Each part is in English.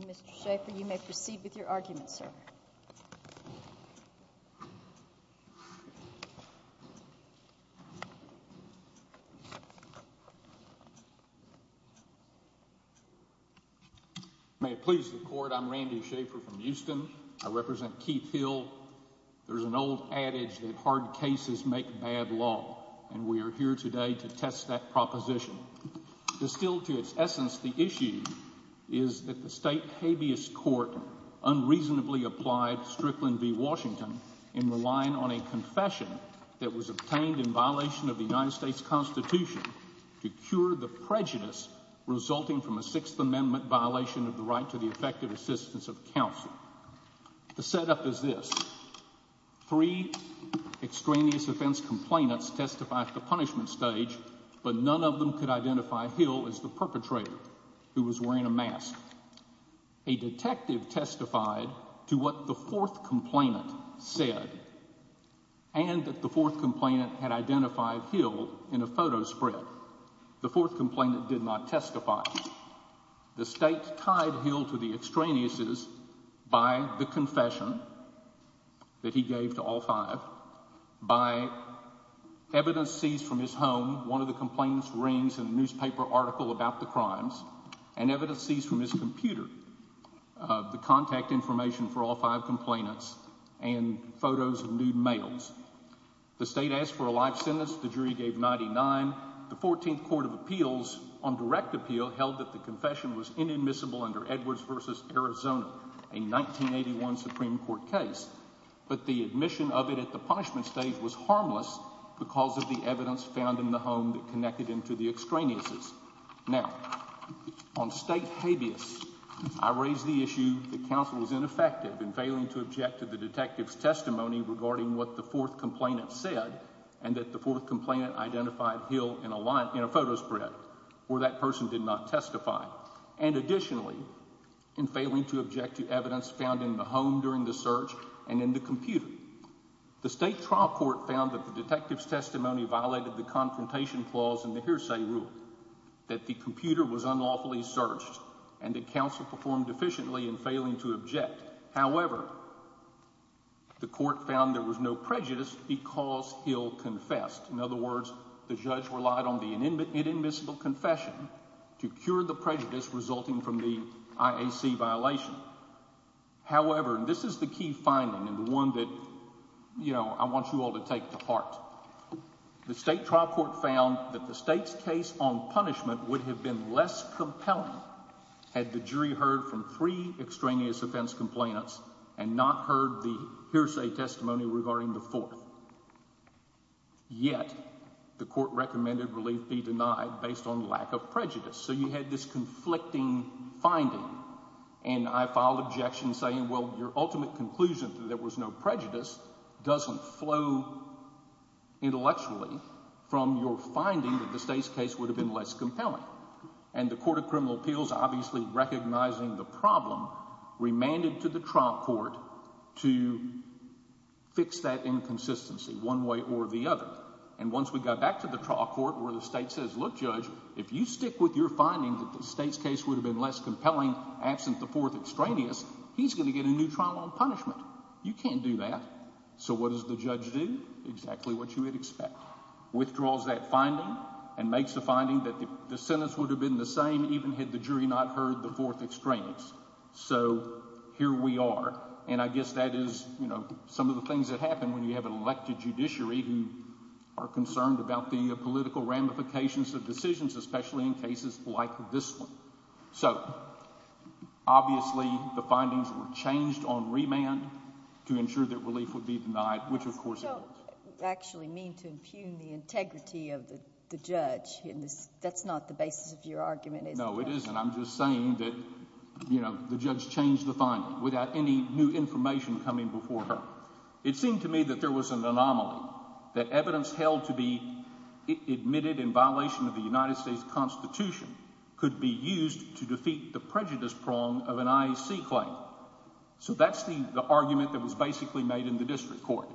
Mr. Schaffer, you may proceed with your argument, sir. May it please the Court, I'm Randy Schaffer from Houston. I represent Keith Hill. There's an old adage that hard cases make bad law, and we are here today to test that proposition. Distilled to its essence, the issue is that the state habeas court unreasonably applied Strickland v. Washington in relying on a confession that was obtained in violation of the United States Constitution to cure the prejudice resulting from a Sixth Amendment violation of the right to the effective assistance of counsel. The setup is this. Three extraneous offense complainants testified at the punishment stage, but none of them could identify Hill as the perpetrator who was wearing a mask. A detective testified to what the fourth complainant said and that the fourth complainant had identified Hill in a photo spread. The fourth complainant did not testify. The state tied Hill to the extraneouses by the confession that he gave to all five, by evidence seized from his home, one of the complainant's rings, a newspaper article about the crimes, and evidence seized from his computer, the contact information for all five complainants, and photos of nude males. The state asked for a life sentence. The jury gave 99. The 14th Court of Appeals on direct appeal held that the confession was inadmissible under Edwards v. Arizona, a 1981 Supreme Court case, but the admission of it at the punishment stage was harmless because of the evidence found in the home that connected him to the extraneouses. Now, on state habeas, I raise the issue that counsel was ineffective in failing to object to the detective's testimony regarding what the fourth complainant said and that the fourth complainant identified Hill in a photo spread, or that And additionally, in failing to object to evidence found in the home during the search and in the computer, the state trial court found that the detective's testimony violated the confrontation clause in the hearsay rule, that the computer was unlawfully searched, and that counsel performed deficiently in failing to object. However, the court found there was no prejudice because Hill confessed. In other words, the judge relied on the inadmissible confession to cure the prejudice resulting from the IAC violation. However, and this is the key finding and the one that, you know, I want you all to take to heart, the state trial court found that the state's case on punishment would have been less compelling had the jury heard from three extraneous offense complainants and not heard the hearsay testimony regarding the fourth. Yet, the court recommended relief be denied based on lack of prejudice. So you had this conflicting finding, and I filed objection saying, well, your ultimate conclusion that there was no prejudice doesn't flow intellectually from your finding that the state's case would have been less compelling. And the Court of Criminal Appeals, obviously recognizing the problem, remanded to the trial court to fix that inconsistency one way or the other. And once we got back to the trial court where the state says, look, Judge, if you stick with your finding that the state's case would have been less compelling absent the fourth extraneous, he's going to get a new trial on punishment. You can't do that. So what does the judge do? Exactly what you would expect. Withdraws that finding and makes a finding that the sentence would have been the same even had the jury not heard the fourth extraneous. So here we are. And I guess that is, you know, some of the things that happen when you have an elected judiciary who are concerned about the political ramifications of decisions, especially in cases like this one. So, obviously, the findings were changed on remand to ensure that relief would be denied, which, of course... You don't actually mean to impugn the integrity of the judge. That's not the basis of your argument, is it? No, it isn't. I'm just saying that, you know, the judge changed the finding without any new information coming before her. It seemed to me that there was an anomaly, that evidence held to be admitted in violation of the United States Constitution could be used to defeat the prejudice prong of an IAC claim. So that's the argument that was basically made in the district court.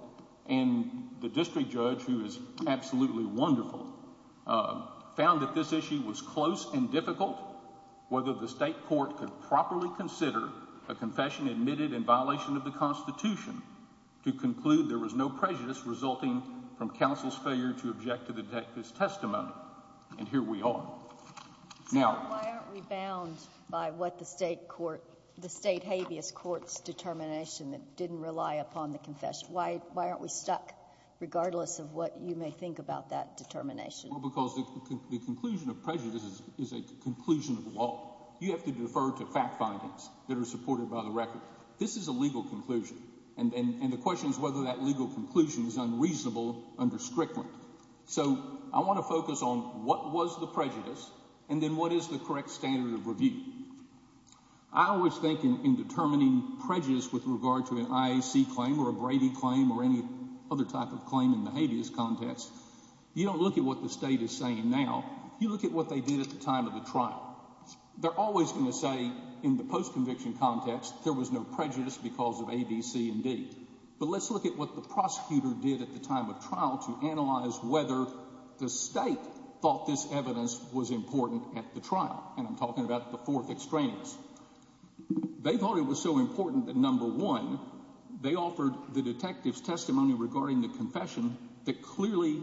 And the district judge, who is absolutely wonderful, found that this issue was close and difficult, whether the state court could properly consider a confession admitted in violation of the Constitution to conclude there was no prejudice resulting from counsel's failure to object to the detective's testimony. And here we are. Why aren't we bound by what the state habeas courts determination that didn't rely upon the confession? Why aren't we stuck, regardless of what you may think about that determination? Well, because the conclusion of prejudice is a conclusion of law. You have to defer to fact findings that are supported by the record. This is a legal conclusion. And the question is whether that legal conclusion is unreasonable under Strickland. So I want to focus on what was the prejudice and then is the correct standard of review. I always think in determining prejudice with regard to an IAC claim or a Brady claim or any other type of claim in the habeas context, you don't look at what the state is saying now. You look at what they did at the time of the trial. They're always going to say in the postconviction context, there was no prejudice because of A, B, C and D. But let's look at what the prosecutor did at the time of trial to analyze whether the state thought this evidence was important at the trial. And I'm talking about the fourth extraneous. They thought it was so important that, number one, they offered the detectives testimony regarding the confession that clearly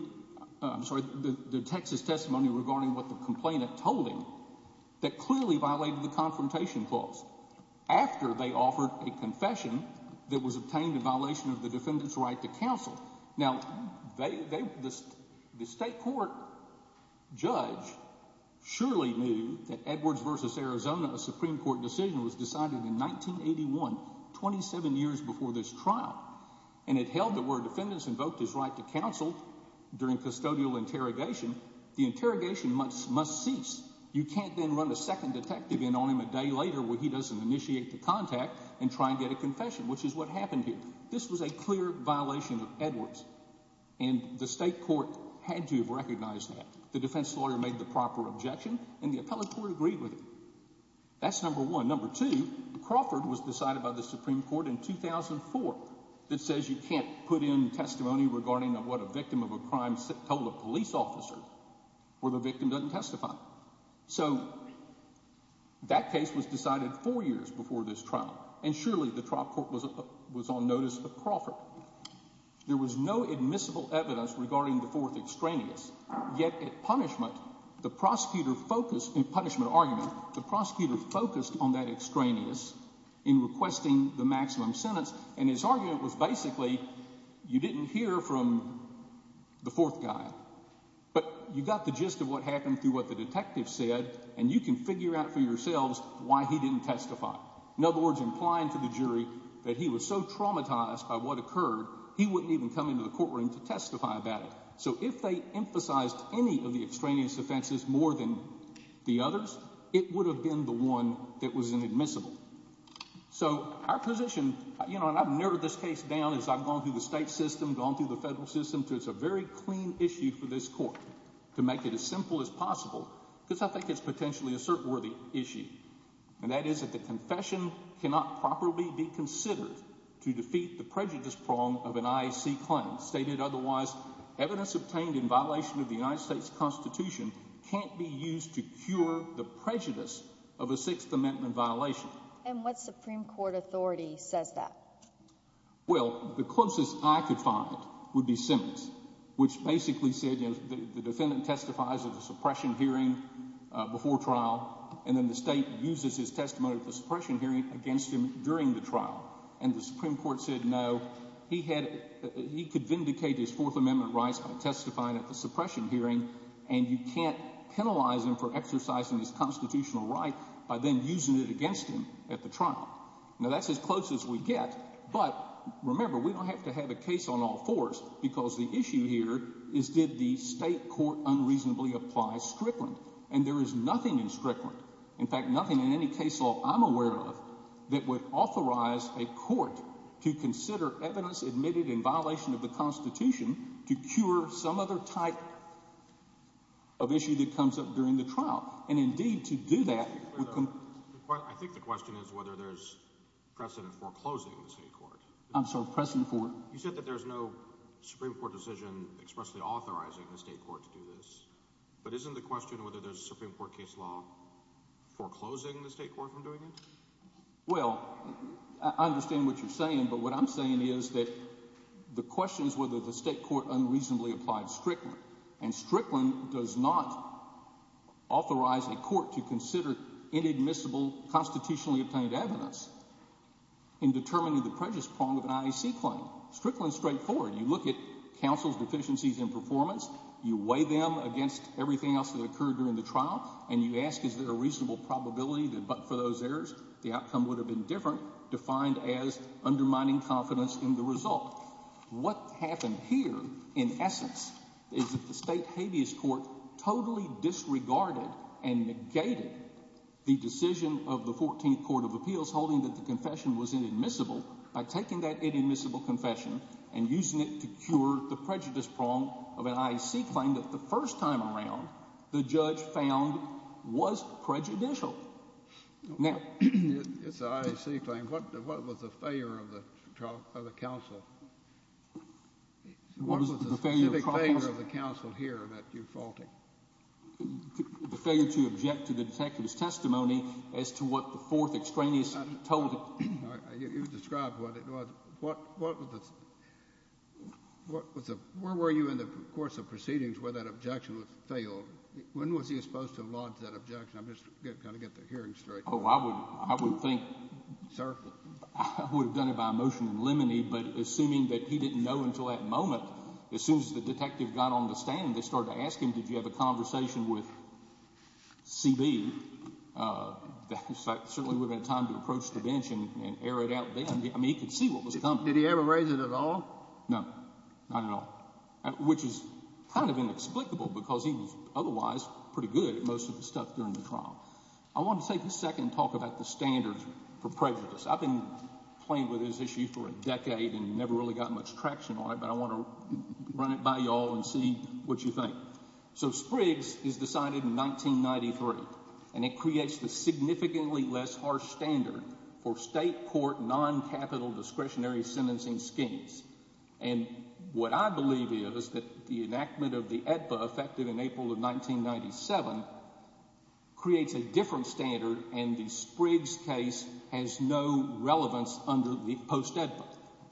I'm sorry, the Texas testimony regarding what the complainant told him that clearly violated the confrontation clause after they offered a confession that was obtained in violation of the defendant's right to counsel. Now, they, the state court judge surely knew that Edwards versus Arizona, a Supreme Court decision was decided in 1981, 27 years before this trial. And it held that where defendants invoked his right to counsel during custodial interrogation, the interrogation must cease. You can't then run a second detective in on him a day later where he doesn't initiate the contact and try and get a And the state court had to have recognized that. The defense lawyer made the proper objection and the appellate court agreed with it. That's number one. Number two, Crawford was decided by the Supreme Court in 2004 that says you can't put in testimony regarding what a victim of a crime told a police officer where the victim doesn't testify. So that case was decided four years before this trial. And surely the trial court was on notice of Crawford. There was no admissible evidence regarding the fourth extraneous. Yet at punishment, the prosecutor focused in punishment argument, the prosecutor focused on that extraneous in requesting the maximum sentence. And his argument was basically you didn't hear from the fourth guy, but you got the gist of what happened through what the detective said. And you can figure out for yourselves why he didn't testify. In other words, implying to the jury that he was so traumatized by what occurred, he wouldn't even come into the courtroom to testify about it. So if they emphasized any of the extraneous offenses more than the others, it would have been the one that was inadmissible. So our position, you know, and I've narrowed this case down as I've gone through the state system, gone through the federal system. So it's a very clean issue for this court to make it as simple as possible, because I think it's potentially a certain worthy issue. And that is that the confession cannot properly be considered to defeat the prejudice prong of an IAC claim stated. Otherwise, evidence obtained in violation of the United States Constitution can't be used to cure the prejudice of a Sixth Amendment violation. And what Supreme Court authority says that? Well, the closest I could find would be Simmons, which basically said, you know, the defendant testifies at the suppression hearing before trial, and then the state uses his testimony at the suppression hearing against him during the trial. And the Supreme Court said, no, he could vindicate his Fourth Amendment rights by testifying at the suppression hearing. And you can't penalize him for exercising his constitutional right by then using it against him at the trial. Now, that's as close as we get. But remember, we don't have to have a case on all fours, because the issue here is, did the state court unreasonably apply Strickland? And there is nothing in Strickland, in fact, nothing in any case law I'm aware of, that would authorize a court to consider evidence admitted in violation of the Constitution to cure some other type of issue that comes up during the trial. And indeed, to do that... I think the question is whether there's precedent for closing the state court. I'm sorry, precedent for? You said that there's no Supreme Court decision expressly authorizing the state court to do this. But isn't the question whether there's a Supreme Court case law foreclosing the state court from doing it? Well, I understand what you're saying. But what I'm saying is that the question is whether the state court unreasonably applied Strickland. And Strickland does not authorize a court to consider inadmissible constitutionally obtained evidence in determining the prejudice prong of an IAC claim. Strickland's straightforward. You look at counsel's deficiencies in performance, you weigh them against everything else that occurred during the trial, and you ask, is there a reasonable probability that but for those errors, the outcome would have been different, defined as undermining confidence in the result. What happened here, in essence, is that the state habeas court totally disregarded and negated the decision of the 14th Court of inadmissible confession and using it to cure the prejudice prong of an IAC claim that the first time around, the judge found was prejudicial. It's an IAC claim. What was the failure of the counsel? What was the specific failure of the counsel here that you're faulting? The failure to object to the detective's testimony as to what the fourth extraneous told. You described what it was. Where were you in the course of proceedings where that objection was failed? When was he supposed to have lodged that objection? I'm just trying to get the hearing straight. Oh, I would have done it by motion in limine, but assuming that he didn't know until that moment, as soon as the detective got on the stand, they started to ask him, did you have a time to approach the bench and air it out? I mean, he could see what was coming. Did he ever raise it at all? No, not at all, which is kind of inexplicable because he was otherwise pretty good at most of the stuff during the trial. I want to take a second and talk about the standards for prejudice. I've been playing with this issue for a decade and never really got much traction on it, but I want to run it by y'all and see what you think. So, Spriggs is decided in 1993, and it creates the significantly less harsh standard for state court non-capital discretionary sentencing schemes. And what I believe is that the enactment of the AEDPA effected in April of 1997 creates a different standard, and the Spriggs case has no relevance under the post-AEDPA.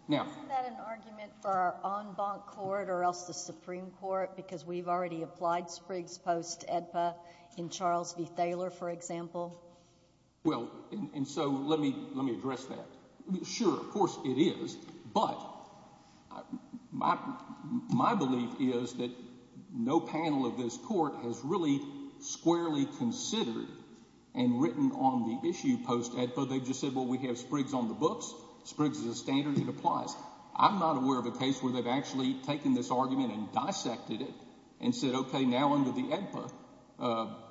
Now, isn't that an argument for our en banc court or else the Supreme Court, because we've already applied Spriggs post-AEDPA in Charles v. Thaler, for example? Well, and so let me address that. Sure, of course it is, but my belief is that no panel of this court has really squarely considered and written on the issue post-AEDPA. They've just said, well, we have Spriggs on the books. Spriggs is a standard that applies. I'm not aware of a case where they've actually taken this argument and dissected it and said, okay, now under the AEDPA,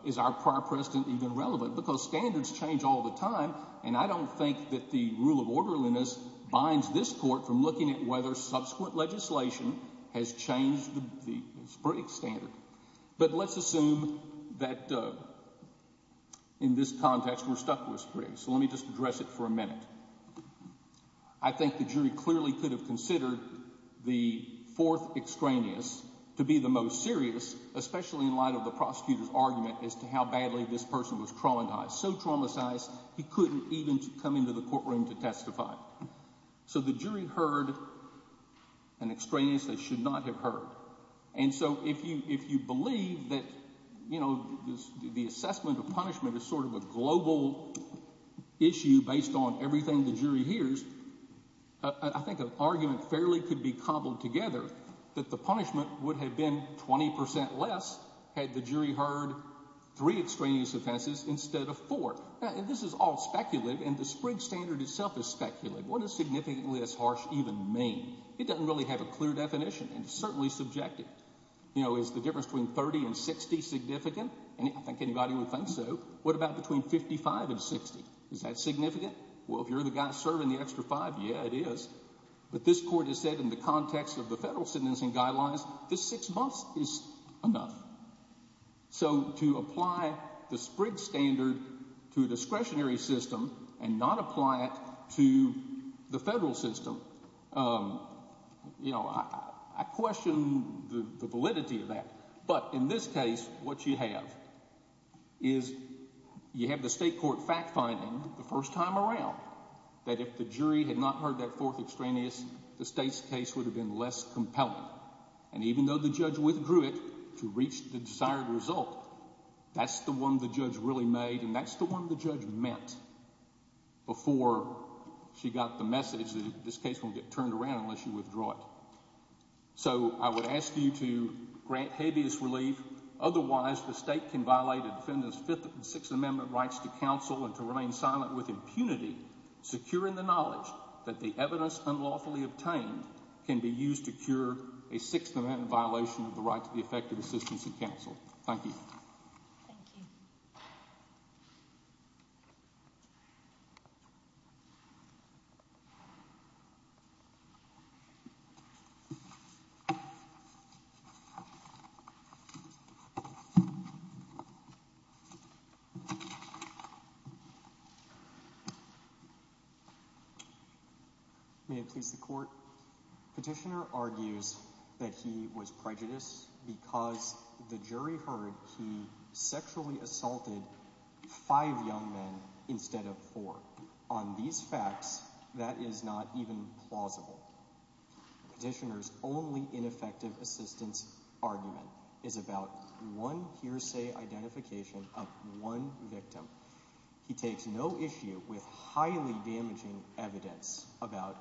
is our prior precedent even relevant? Because standards change all the time, and I don't think that the rule of orderliness binds this court from looking at whether subsequent legislation has changed the Spriggs standard. But let's assume that in this context, we're stuck with Spriggs. So let me just address it for a minute. I think the jury clearly could have considered the fourth extraneous to be the most serious, especially in light of the prosecutor's argument as to how badly this person was traumatized, so traumatized he couldn't even come into the courtroom to testify. So the jury heard an extraneous they should not have heard. And so if you believe that the assessment of punishment is sort of a global issue based on everything the jury hears, I think an argument fairly could be cobbled together that the punishment would have been 20% less had the jury heard three extraneous offenses instead of four. Now, this is all speculative, and the Spriggs standard itself is speculative. What does significantly less harsh even mean? It doesn't really have a clear definition, and it's certainly subjective. You know, is the difference between 30 and 60 significant? I think anybody would think so. What about between 55 and 60? Is that significant? Well, if you're the guy serving the extra five, yeah, it is. But this court has said in the context of the federal sentencing guidelines, this six months is enough. So to apply the Spriggs standard to a discretionary system and not apply it to the federal system, you know, I question the validity of that. But in this case, what you have is you have the state court fact finding the first time around that if the jury had not heard that fourth extraneous, the state's case would have been less compelling. And even though the judge withdrew it to reach the desired result, that's the one the judge really made, and that's the one the judge meant before she got the message that this case won't get turned around unless you withdraw it. So I would ask you to grant habeas relief. Otherwise, the state can violate a defendant's Fifth and Sixth Amendment rights to counsel and to remain silent with impunity, securing the knowledge that the evidence unlawfully obtained can be used to cure a Sixth Amendment violation of the right to the effective assistance of counsel. Thank you. Thank you. So may it please the court. Petitioner argues that he was prejudiced because the jury heard he assaulted five young men instead of four. On these facts, that is not even plausible. Petitioner's only ineffective assistance argument is about one hearsay identification of one victim. He takes no issue with highly damaging evidence about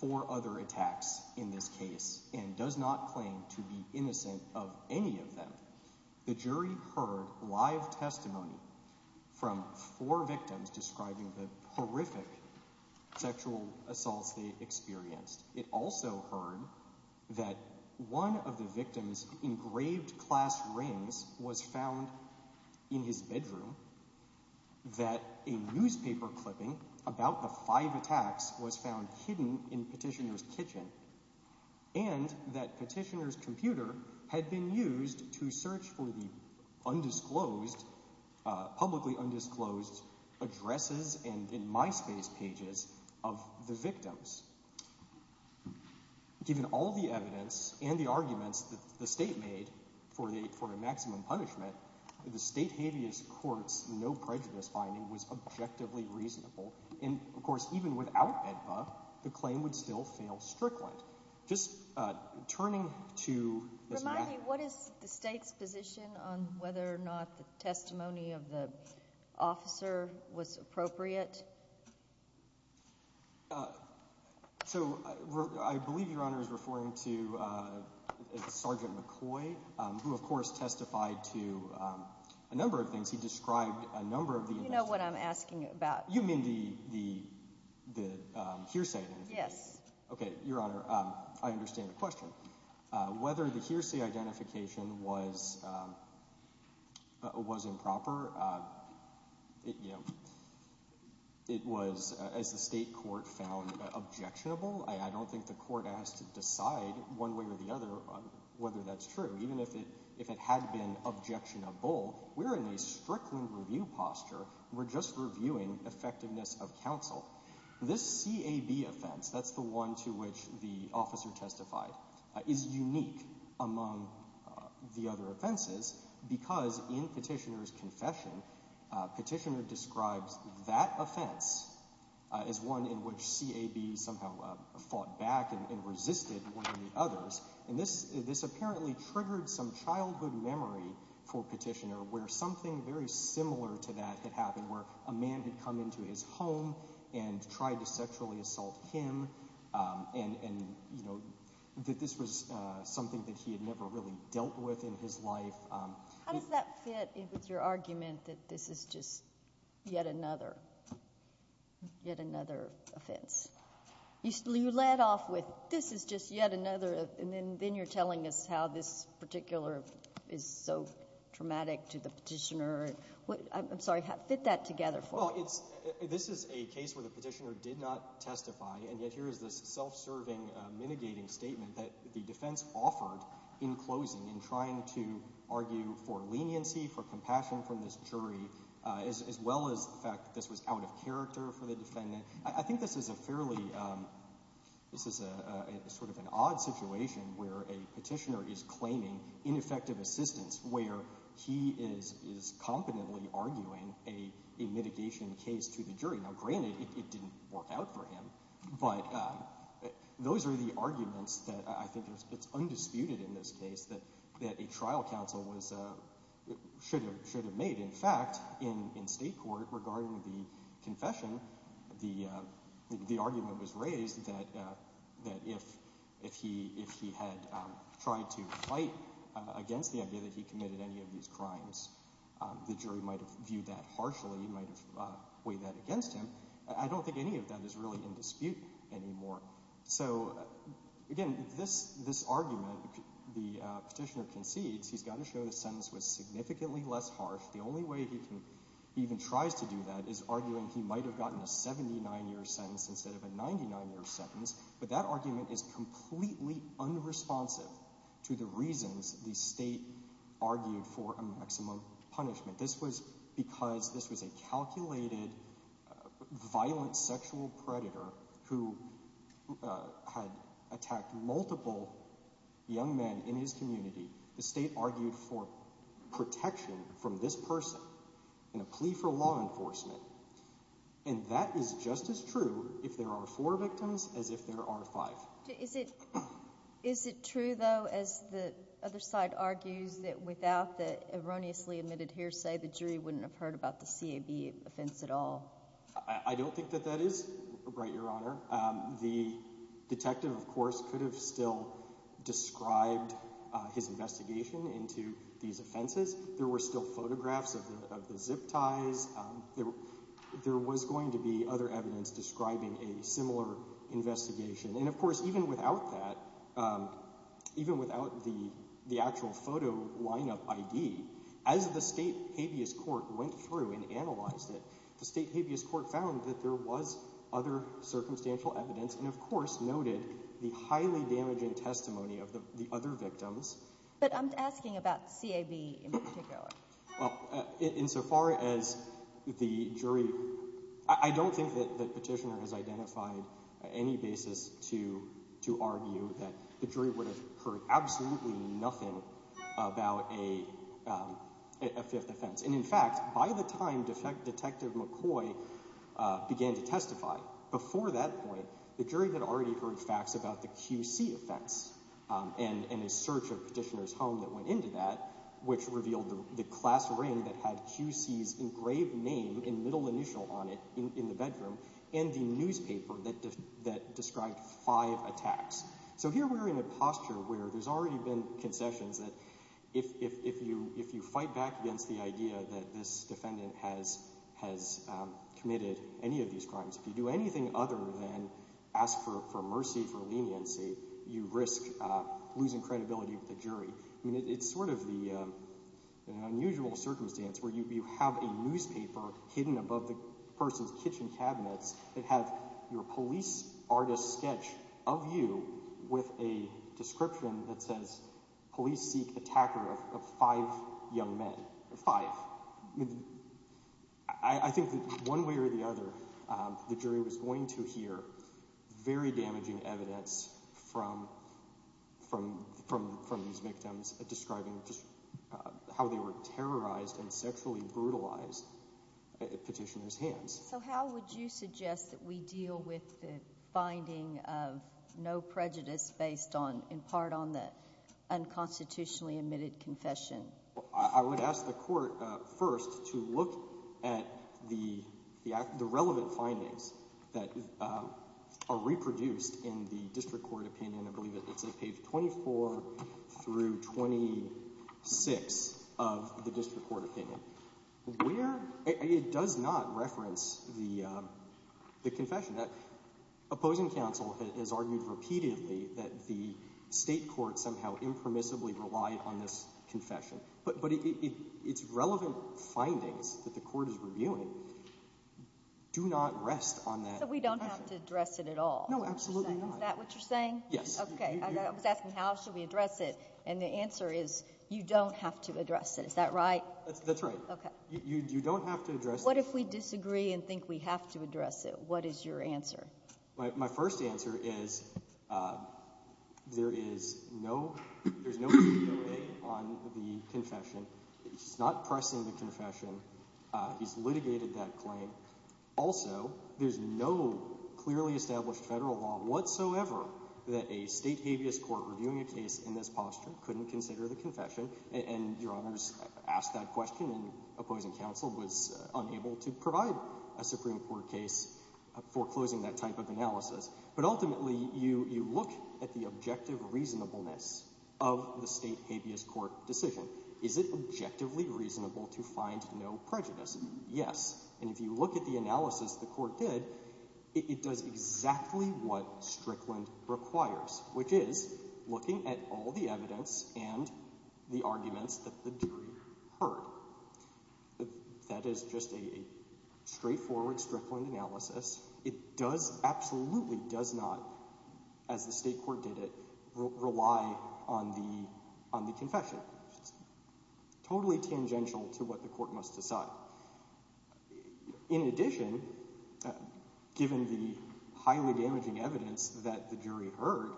four other attacks in this case and does not claim to be innocent of any of them. The jury heard live testimony from four victims describing the horrific sexual assaults they experienced. It also heard that one of the victims' engraved class rings was found in his bedroom, that a newspaper clipping about the petitioner's computer had been used to search for the publicly undisclosed addresses and MySpace pages of the victims. Given all the evidence and the arguments that the state made for a maximum punishment, the state habeas court's no prejudice finding was objectively reasonable. And, of course, the jury heard the testimony of the four victims, and the jury heard the testimony of the officer who testified to a number of things. He described a number of the events. You know what I'm asking about? You mean the hearsay? Yes. Okay. Your Honor, I understand the question. Whether the hearsay identification was improper, it was, as the state court found, objectionable. I don't think the court has to decide one way or the other whether that's true. Even if it had been objectionable, we're in a strictly review posture. We're just reviewing effectiveness of counsel. This CAB offense, that's the one to which the officer testified, is unique among the other offenses because in petitioner's confession, petitioner describes that offense as one in which CAB somehow fought back and resisted one of the others. And this apparently triggered some childhood memory for petitioner where something very similar to that had happened, where a man had come into his home and tried to sexually assault him, and, you know, that this was something that he had never really dealt with in his life. How does that fit with your argument that this is just yet another offense? You led off with this is just yet another, and then you're telling us how this particular is so traumatic to the petitioner. I'm sorry, fit that together for us. Well, this is a case where the petitioner did not testify, and yet here is this self-serving, mitigating statement that the defense offered in closing in trying to argue for leniency, for compassion from this jury, as well as the fact this was out of character for the defendant. I think this is a fairly, this is a sort of an odd situation where a petitioner is claiming ineffective assistance, where he is competently arguing a mitigation case to the jury. Now, granted, it didn't work out for him, but those are the arguments that I think it's undisputed in this case that a trial counsel should have made. In fact, in state court, regarding the confession, the argument was raised that if he had tried to fight against the idea that he committed any of these crimes, the jury might have viewed that harshly, might have weighed that against him. I don't think any of that is really in dispute anymore. So, again, this argument, the petitioner concedes he's got to show the sentence was significantly less harsh. The only way he even tries to do that is arguing he might have gotten a 79-year sentence instead of a 99-year sentence, but that argument is completely unresponsive to the reasons the state argued for a maximum punishment. This was because this was a calculated, violent sexual predator who had attacked multiple young men in his community. The state argued for protection from this person in a plea for law enforcement, and that is just as true if there are four victims as if there are five. Is it true, though, as the other side argues, that without the erroneously admitted hearsay, the jury wouldn't have heard about the CAB offense at all? I don't think that that is right, Your Honor. The detective, of course, could have still described his investigation into these offenses. There were still photographs of the zip ties. There was going to be other evidence describing a similar investigation, and, of course, even without that, even without the actual photo lineup ID, as the state habeas court went through and analyzed it, the state habeas court found that there was other circumstantial evidence and, of course, noted the highly damaging testimony of the other victims. But I'm asking about CAB in particular. Well, insofar as the jury, I don't think that the petitioner has identified any basis to argue that the jury would have heard absolutely nothing about a fifth offense. And, in fact, by the time Detective McCoy began to testify, before that point, the jury had already heard facts about the QC offense and a search of the petitioner's home that went into that, which revealed the class ring that had QC's engraved name and middle initial on it in the bedroom and the newspaper that described five attacks. So here we're in a posture where there's already been concessions that if you fight back against the idea that this defendant has committed any of these crimes, if you do anything other than ask for mercy, for leniency, you risk losing credibility with the jury. I mean, it's sort of an unusual circumstance where you have a newspaper hidden above the person's kitchen cabinets that have your police artist's description that says, police seek attacker of five young men. Five. I think that one way or the other, the jury was going to hear very damaging evidence from these victims describing how they were terrorized and sexually brutalized at petitioner's hands. So how would you suggest that we deal with the finding of no prejudice based on, in part, on the unconstitutionally admitted confession? I would ask the court first to look at the relevant findings that are reproduced in the district court opinion. I believe it's on page 24 through 26 of the district court opinion. It does not reference the confession. Opposing counsel has argued repeatedly that the state court somehow impermissibly relied on this confession, but its relevant findings that the court is reviewing do not rest on that. So we don't have to address it at all? No, absolutely not. Is that what you're saying? Yes. Okay. I was asking how should we address it? And the answer is you don't have to address it. Is that right? That's right. Okay. You don't have to address it. What if we disagree and think we have to address it? What is your answer? My first answer is there is no, there's no DOA on the confession. He's not pressing the confession. He's litigated that claim. Also, there's no clearly established federal law whatsoever that a state habeas court reviewing a case in this posture couldn't consider the confession. And your honors asked that question and opposing counsel was unable to provide a Supreme Court case foreclosing that type of analysis. But ultimately, you look at the objective reasonableness of the state habeas court decision. Is it objectively reasonable to find no prejudice? Yes. And if you look at the analysis the court did, it does exactly what Strickland requires, which is looking at all the evidence and the arguments that the jury heard. That is just a straightforward Strickland analysis. It does, absolutely does not, as the state court did it, rely on the confession. Totally tangential to what the court must decide. In addition, given the highly damaging evidence that the jury heard,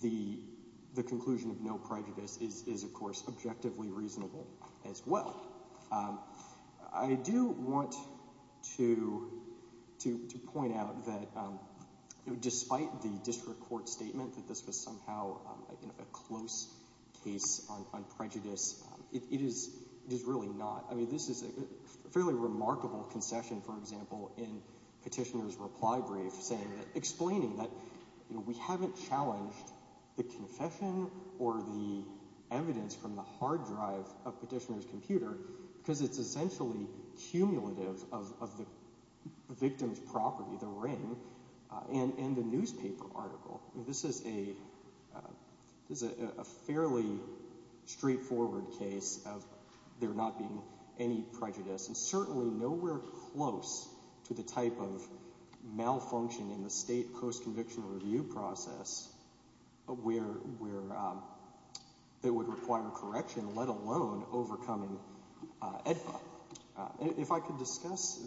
the conclusion of no prejudice is, of course, objectively reasonable as well. I do want to point out that despite the district court's statement that this was somehow a close case on prejudice, it is really not. I mean, this is a fairly remarkable concession, for example, in Petitioner's reply brief explaining that we haven't challenged the confession or the evidence from the hard drive of Petitioner's computer because it's essentially cumulative of the property, the ring, and the newspaper article. This is a fairly straightforward case of there not being any prejudice, and certainly nowhere close to the type of malfunction in the state post-convictional review process that would require correction, let alone overcoming EDFA. If I could discuss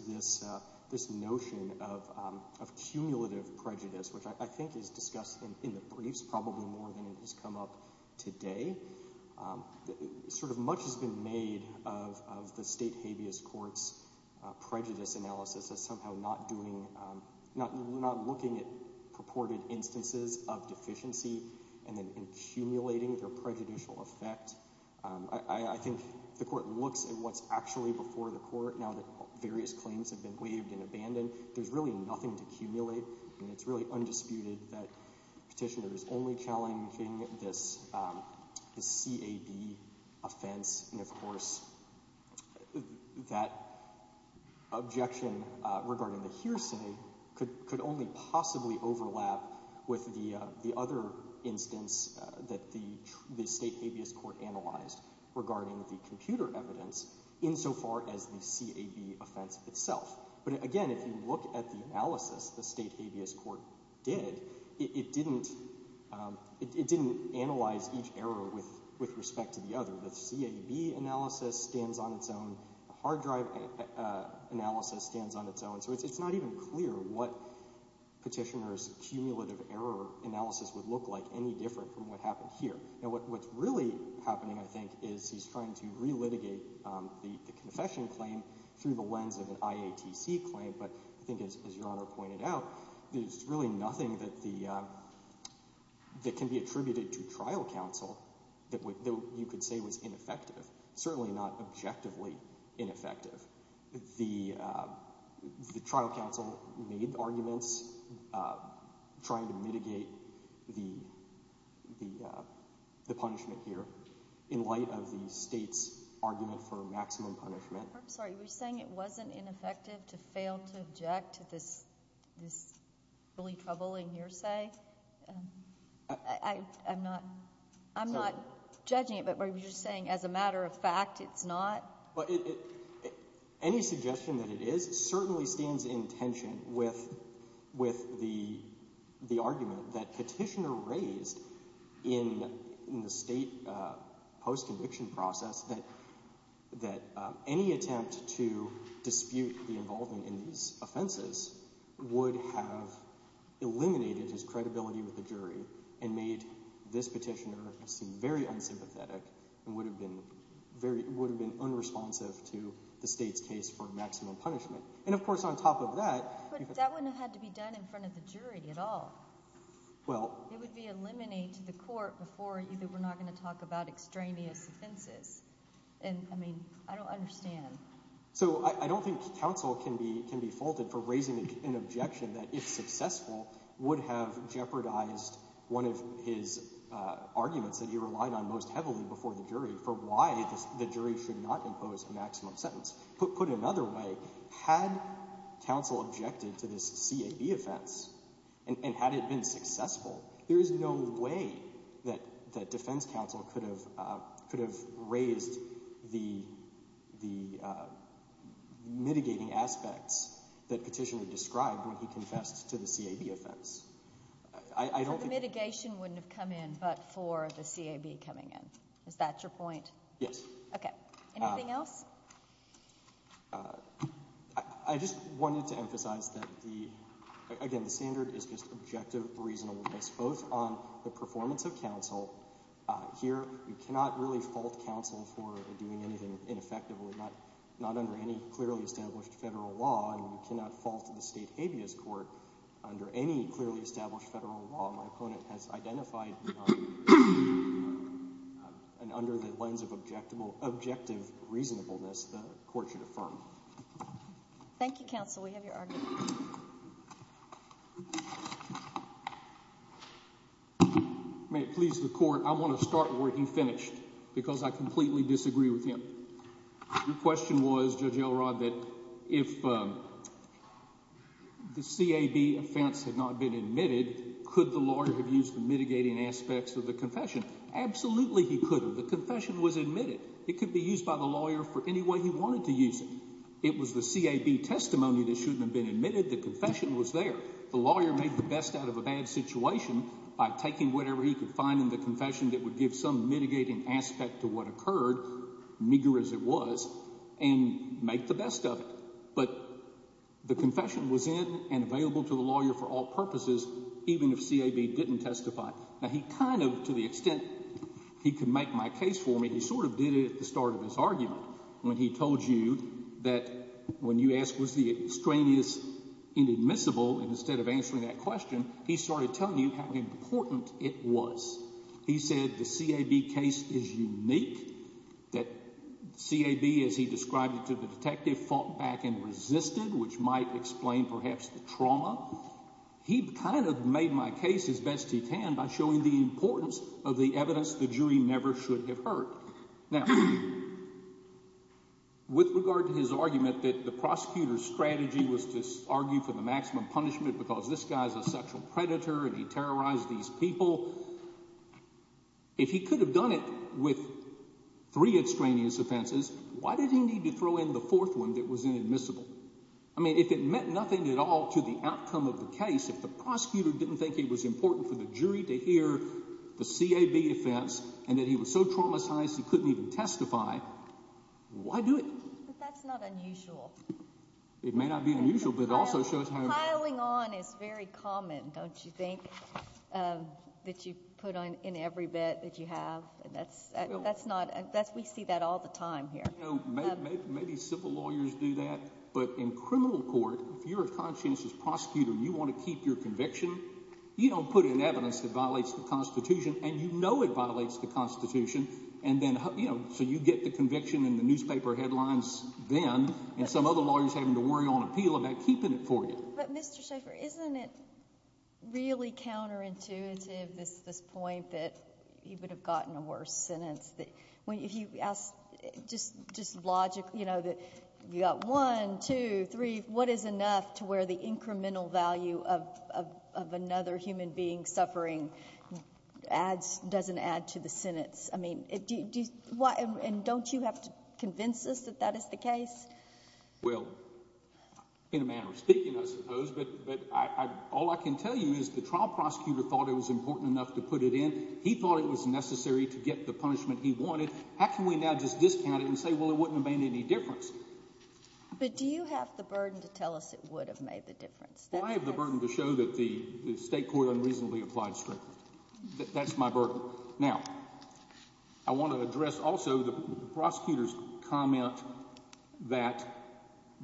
this notion of cumulative prejudice, which I think is discussed in the briefs probably more than it has come up today, sort of much has been made of the state habeas court's prejudice analysis as somehow not looking at purported instances of deficiency and then now that various claims have been waived and abandoned, there's really nothing to accumulate, and it's really undisputed that Petitioner is only challenging this CAB offense, and of course that objection regarding the hearsay could only possibly overlap with the other instance that the state habeas court analyzed regarding the computer evidence insofar as the CAB offense itself. But again, if you look at the analysis the state habeas court did, it didn't analyze each error with respect to the other. The CAB analysis stands on its own, the hard drive analysis stands on its own, so it's not even clear what Petitioner's cumulative error analysis would look like any different from what happened here. Now what's really happening, I think, is he's trying to relitigate the confession claim through the lens of an IATC claim, but I think as your Honor pointed out, there's really nothing that can be attributed to trial counsel that you could say was ineffective, certainly not objectively ineffective. The trial counsel made arguments trying to mitigate the punishment here in light of the state's argument for maximum punishment. I'm sorry, you were saying it wasn't ineffective to fail to object to this really troubling hearsay? I'm not judging it, but you're saying as a matter of fact, it's not? Any suggestion that it is certainly stands in tension with the argument that Petitioner raised in the state post-conviction process that any attempt to dispute the involvement in these offenses would have eliminated his and would have been unresponsive to the state's case for maximum punishment, and of course on top of that... But that wouldn't have had to be done in front of the jury at all. It would be eliminated to the court before either we're not going to talk about extraneous offenses, and I mean, I don't understand. So I don't think counsel can be faulted for raising an objection that, if successful, would have jeopardized one of his arguments that he heavily before the jury for why the jury should not impose a maximum sentence. Put another way, had counsel objected to this CAB offense and had it been successful, there is no way that defense counsel could have raised the mitigating aspects that Petitioner described when he confessed to the CAB offense. I don't think... So the mitigation wouldn't have come in but for the is that your point? Yes. Okay. Anything else? I just wanted to emphasize that the, again, the standard is just objective reasonableness, both on the performance of counsel. Here we cannot really fault counsel for doing anything ineffectively, not under any clearly established federal law, and we cannot fault the state habeas court under any clearly established federal law. My opponent has identified and under the lens of objective reasonableness, the court should affirm. Thank you, counsel. We have your argument. May it please the court, I want to start where he finished because I completely disagree with him. Your question was, Judge Elrod, that if the CAB offense had not been admitted, could the lawyer have used the mitigating aspects of the confession? Absolutely, he couldn't. The confession was admitted. It could be used by the lawyer for any way he wanted to use it. It was the CAB testimony that shouldn't have been admitted. The confession was there. The lawyer made the best out of a bad situation by taking whatever he could find in the confession that would give some mitigating aspect to what occurred, meager as it was, and make the best of it. But the confession was in and available to the lawyer for all purposes, even if CAB didn't testify. Now, he kind of, to the extent he could make my case for me, he sort of did it at the start of his argument when he told you that when you asked, was the extraneous inadmissible? And instead of answering that question, he started telling you how important it was. He said the CAB case is which might explain perhaps the trauma. He kind of made my case as best he can by showing the importance of the evidence the jury never should have heard. Now, with regard to his argument that the prosecutor's strategy was to argue for the maximum punishment because this guy's a sexual predator and he terrorized these people, if he could have done it with three extraneous offenses, why did he need to throw in the fourth one that was inadmissible? I mean, if it meant nothing at all to the outcome of the case, if the prosecutor didn't think it was important for the jury to hear the CAB offense and that he was so traumatized he couldn't even testify, why do it? But that's not unusual. It may not be unusual, but it also shows how... Piling on is very common, don't you think, that you put in every bit that you have. That's not... We see that all the time here. Maybe civil lawyers do that, but in criminal court, if you're a conscientious prosecutor and you want to keep your conviction, you don't put in evidence that violates the Constitution and you know it violates the Constitution, so you get the conviction in the newspaper headlines then and some other lawyer's having to worry on appeal about keeping it for you. But Mr. Schaffer, isn't it really counterintuitive, this point that he would have gotten a worse sentence? If you ask just logically, you know, you've got one, two, three, what is enough to where the incremental value of another human being suffering doesn't add to the sentence? I mean, and don't you have to convince us that that is the case? Well, in a manner of speaking, I suppose, but all I can tell you is the trial prosecutor thought it was important enough to put it in. He thought it was necessary to get the punishment he wanted. How can we now just discount it and say, well, it wouldn't have made any difference? But do you have the burden to tell us it would have made the difference? Well, I have the burden to show that the state court unreasonably applied that. That's my burden. Now, I want to address also the prosecutor's comment that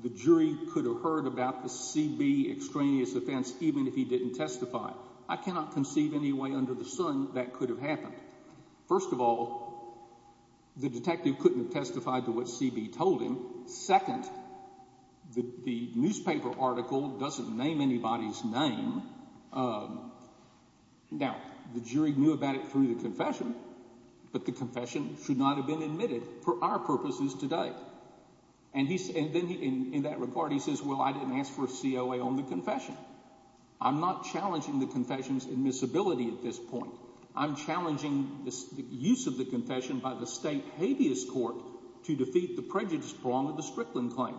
the jury could have heard about the CB extraneous offense even if he didn't testify. I cannot conceive any way under the sun that could have happened. First of all, the detective couldn't testify to what CB told him. Second, the newspaper article doesn't name anybody's name. Now, the jury knew about it through the confession, but the confession should not have been admitted for our purposes today. And then in that report, he says, well, I didn't ask for a COA on the confession. I'm not challenging the confession's admissibility at this point. I'm challenging the use of the confession by the state habeas court to defeat the prejudice prong of the Strickland claim.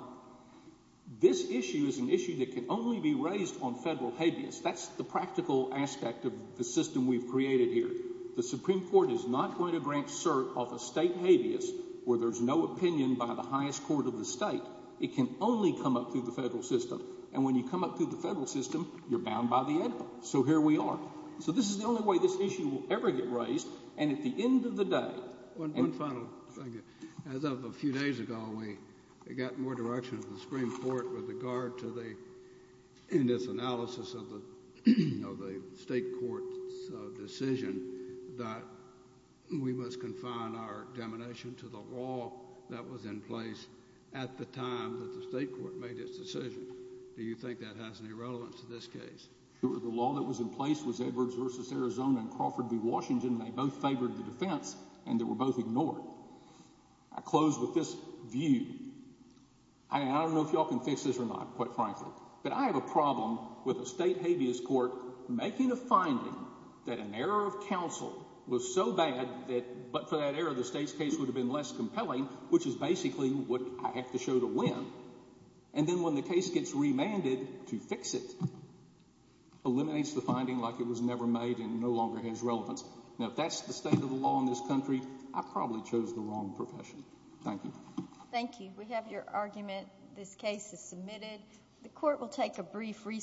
This issue is an issue that can only be raised on federal habeas. That's the practical aspect of the system we've created here. The Supreme Court is not going to grant cert off a state habeas where there's no opinion by the highest court of the state. It can only come up through the federal system. And when you come up through the federal system, you're bound by the end of the day. One final thing. As of a few days ago, we got more direction from the Supreme Court with regard to the analysis of the state court's decision that we must confine our domination to the law that was in place at the time that the state court made its decision. Do you think that has any relevance to this case? Sure. The law that was in place was Edwards Arizona and Crawford v. Washington. They both favored the defense and they were both ignored. I close with this view. I don't know if y'all can fix this or not, quite frankly, but I have a problem with a state habeas court making a finding that an error of counsel was so bad that for that error, the state's case would have been less compelling, which is basically what I have to show to win. And then when the case gets remanded to fix it, eliminates the finding like it was made and no longer has relevance. Now, if that's the state of the law in this country, I probably chose the wrong profession. Thank you. Thank you. We have your argument. This case is submitted. The court will take a brief recess.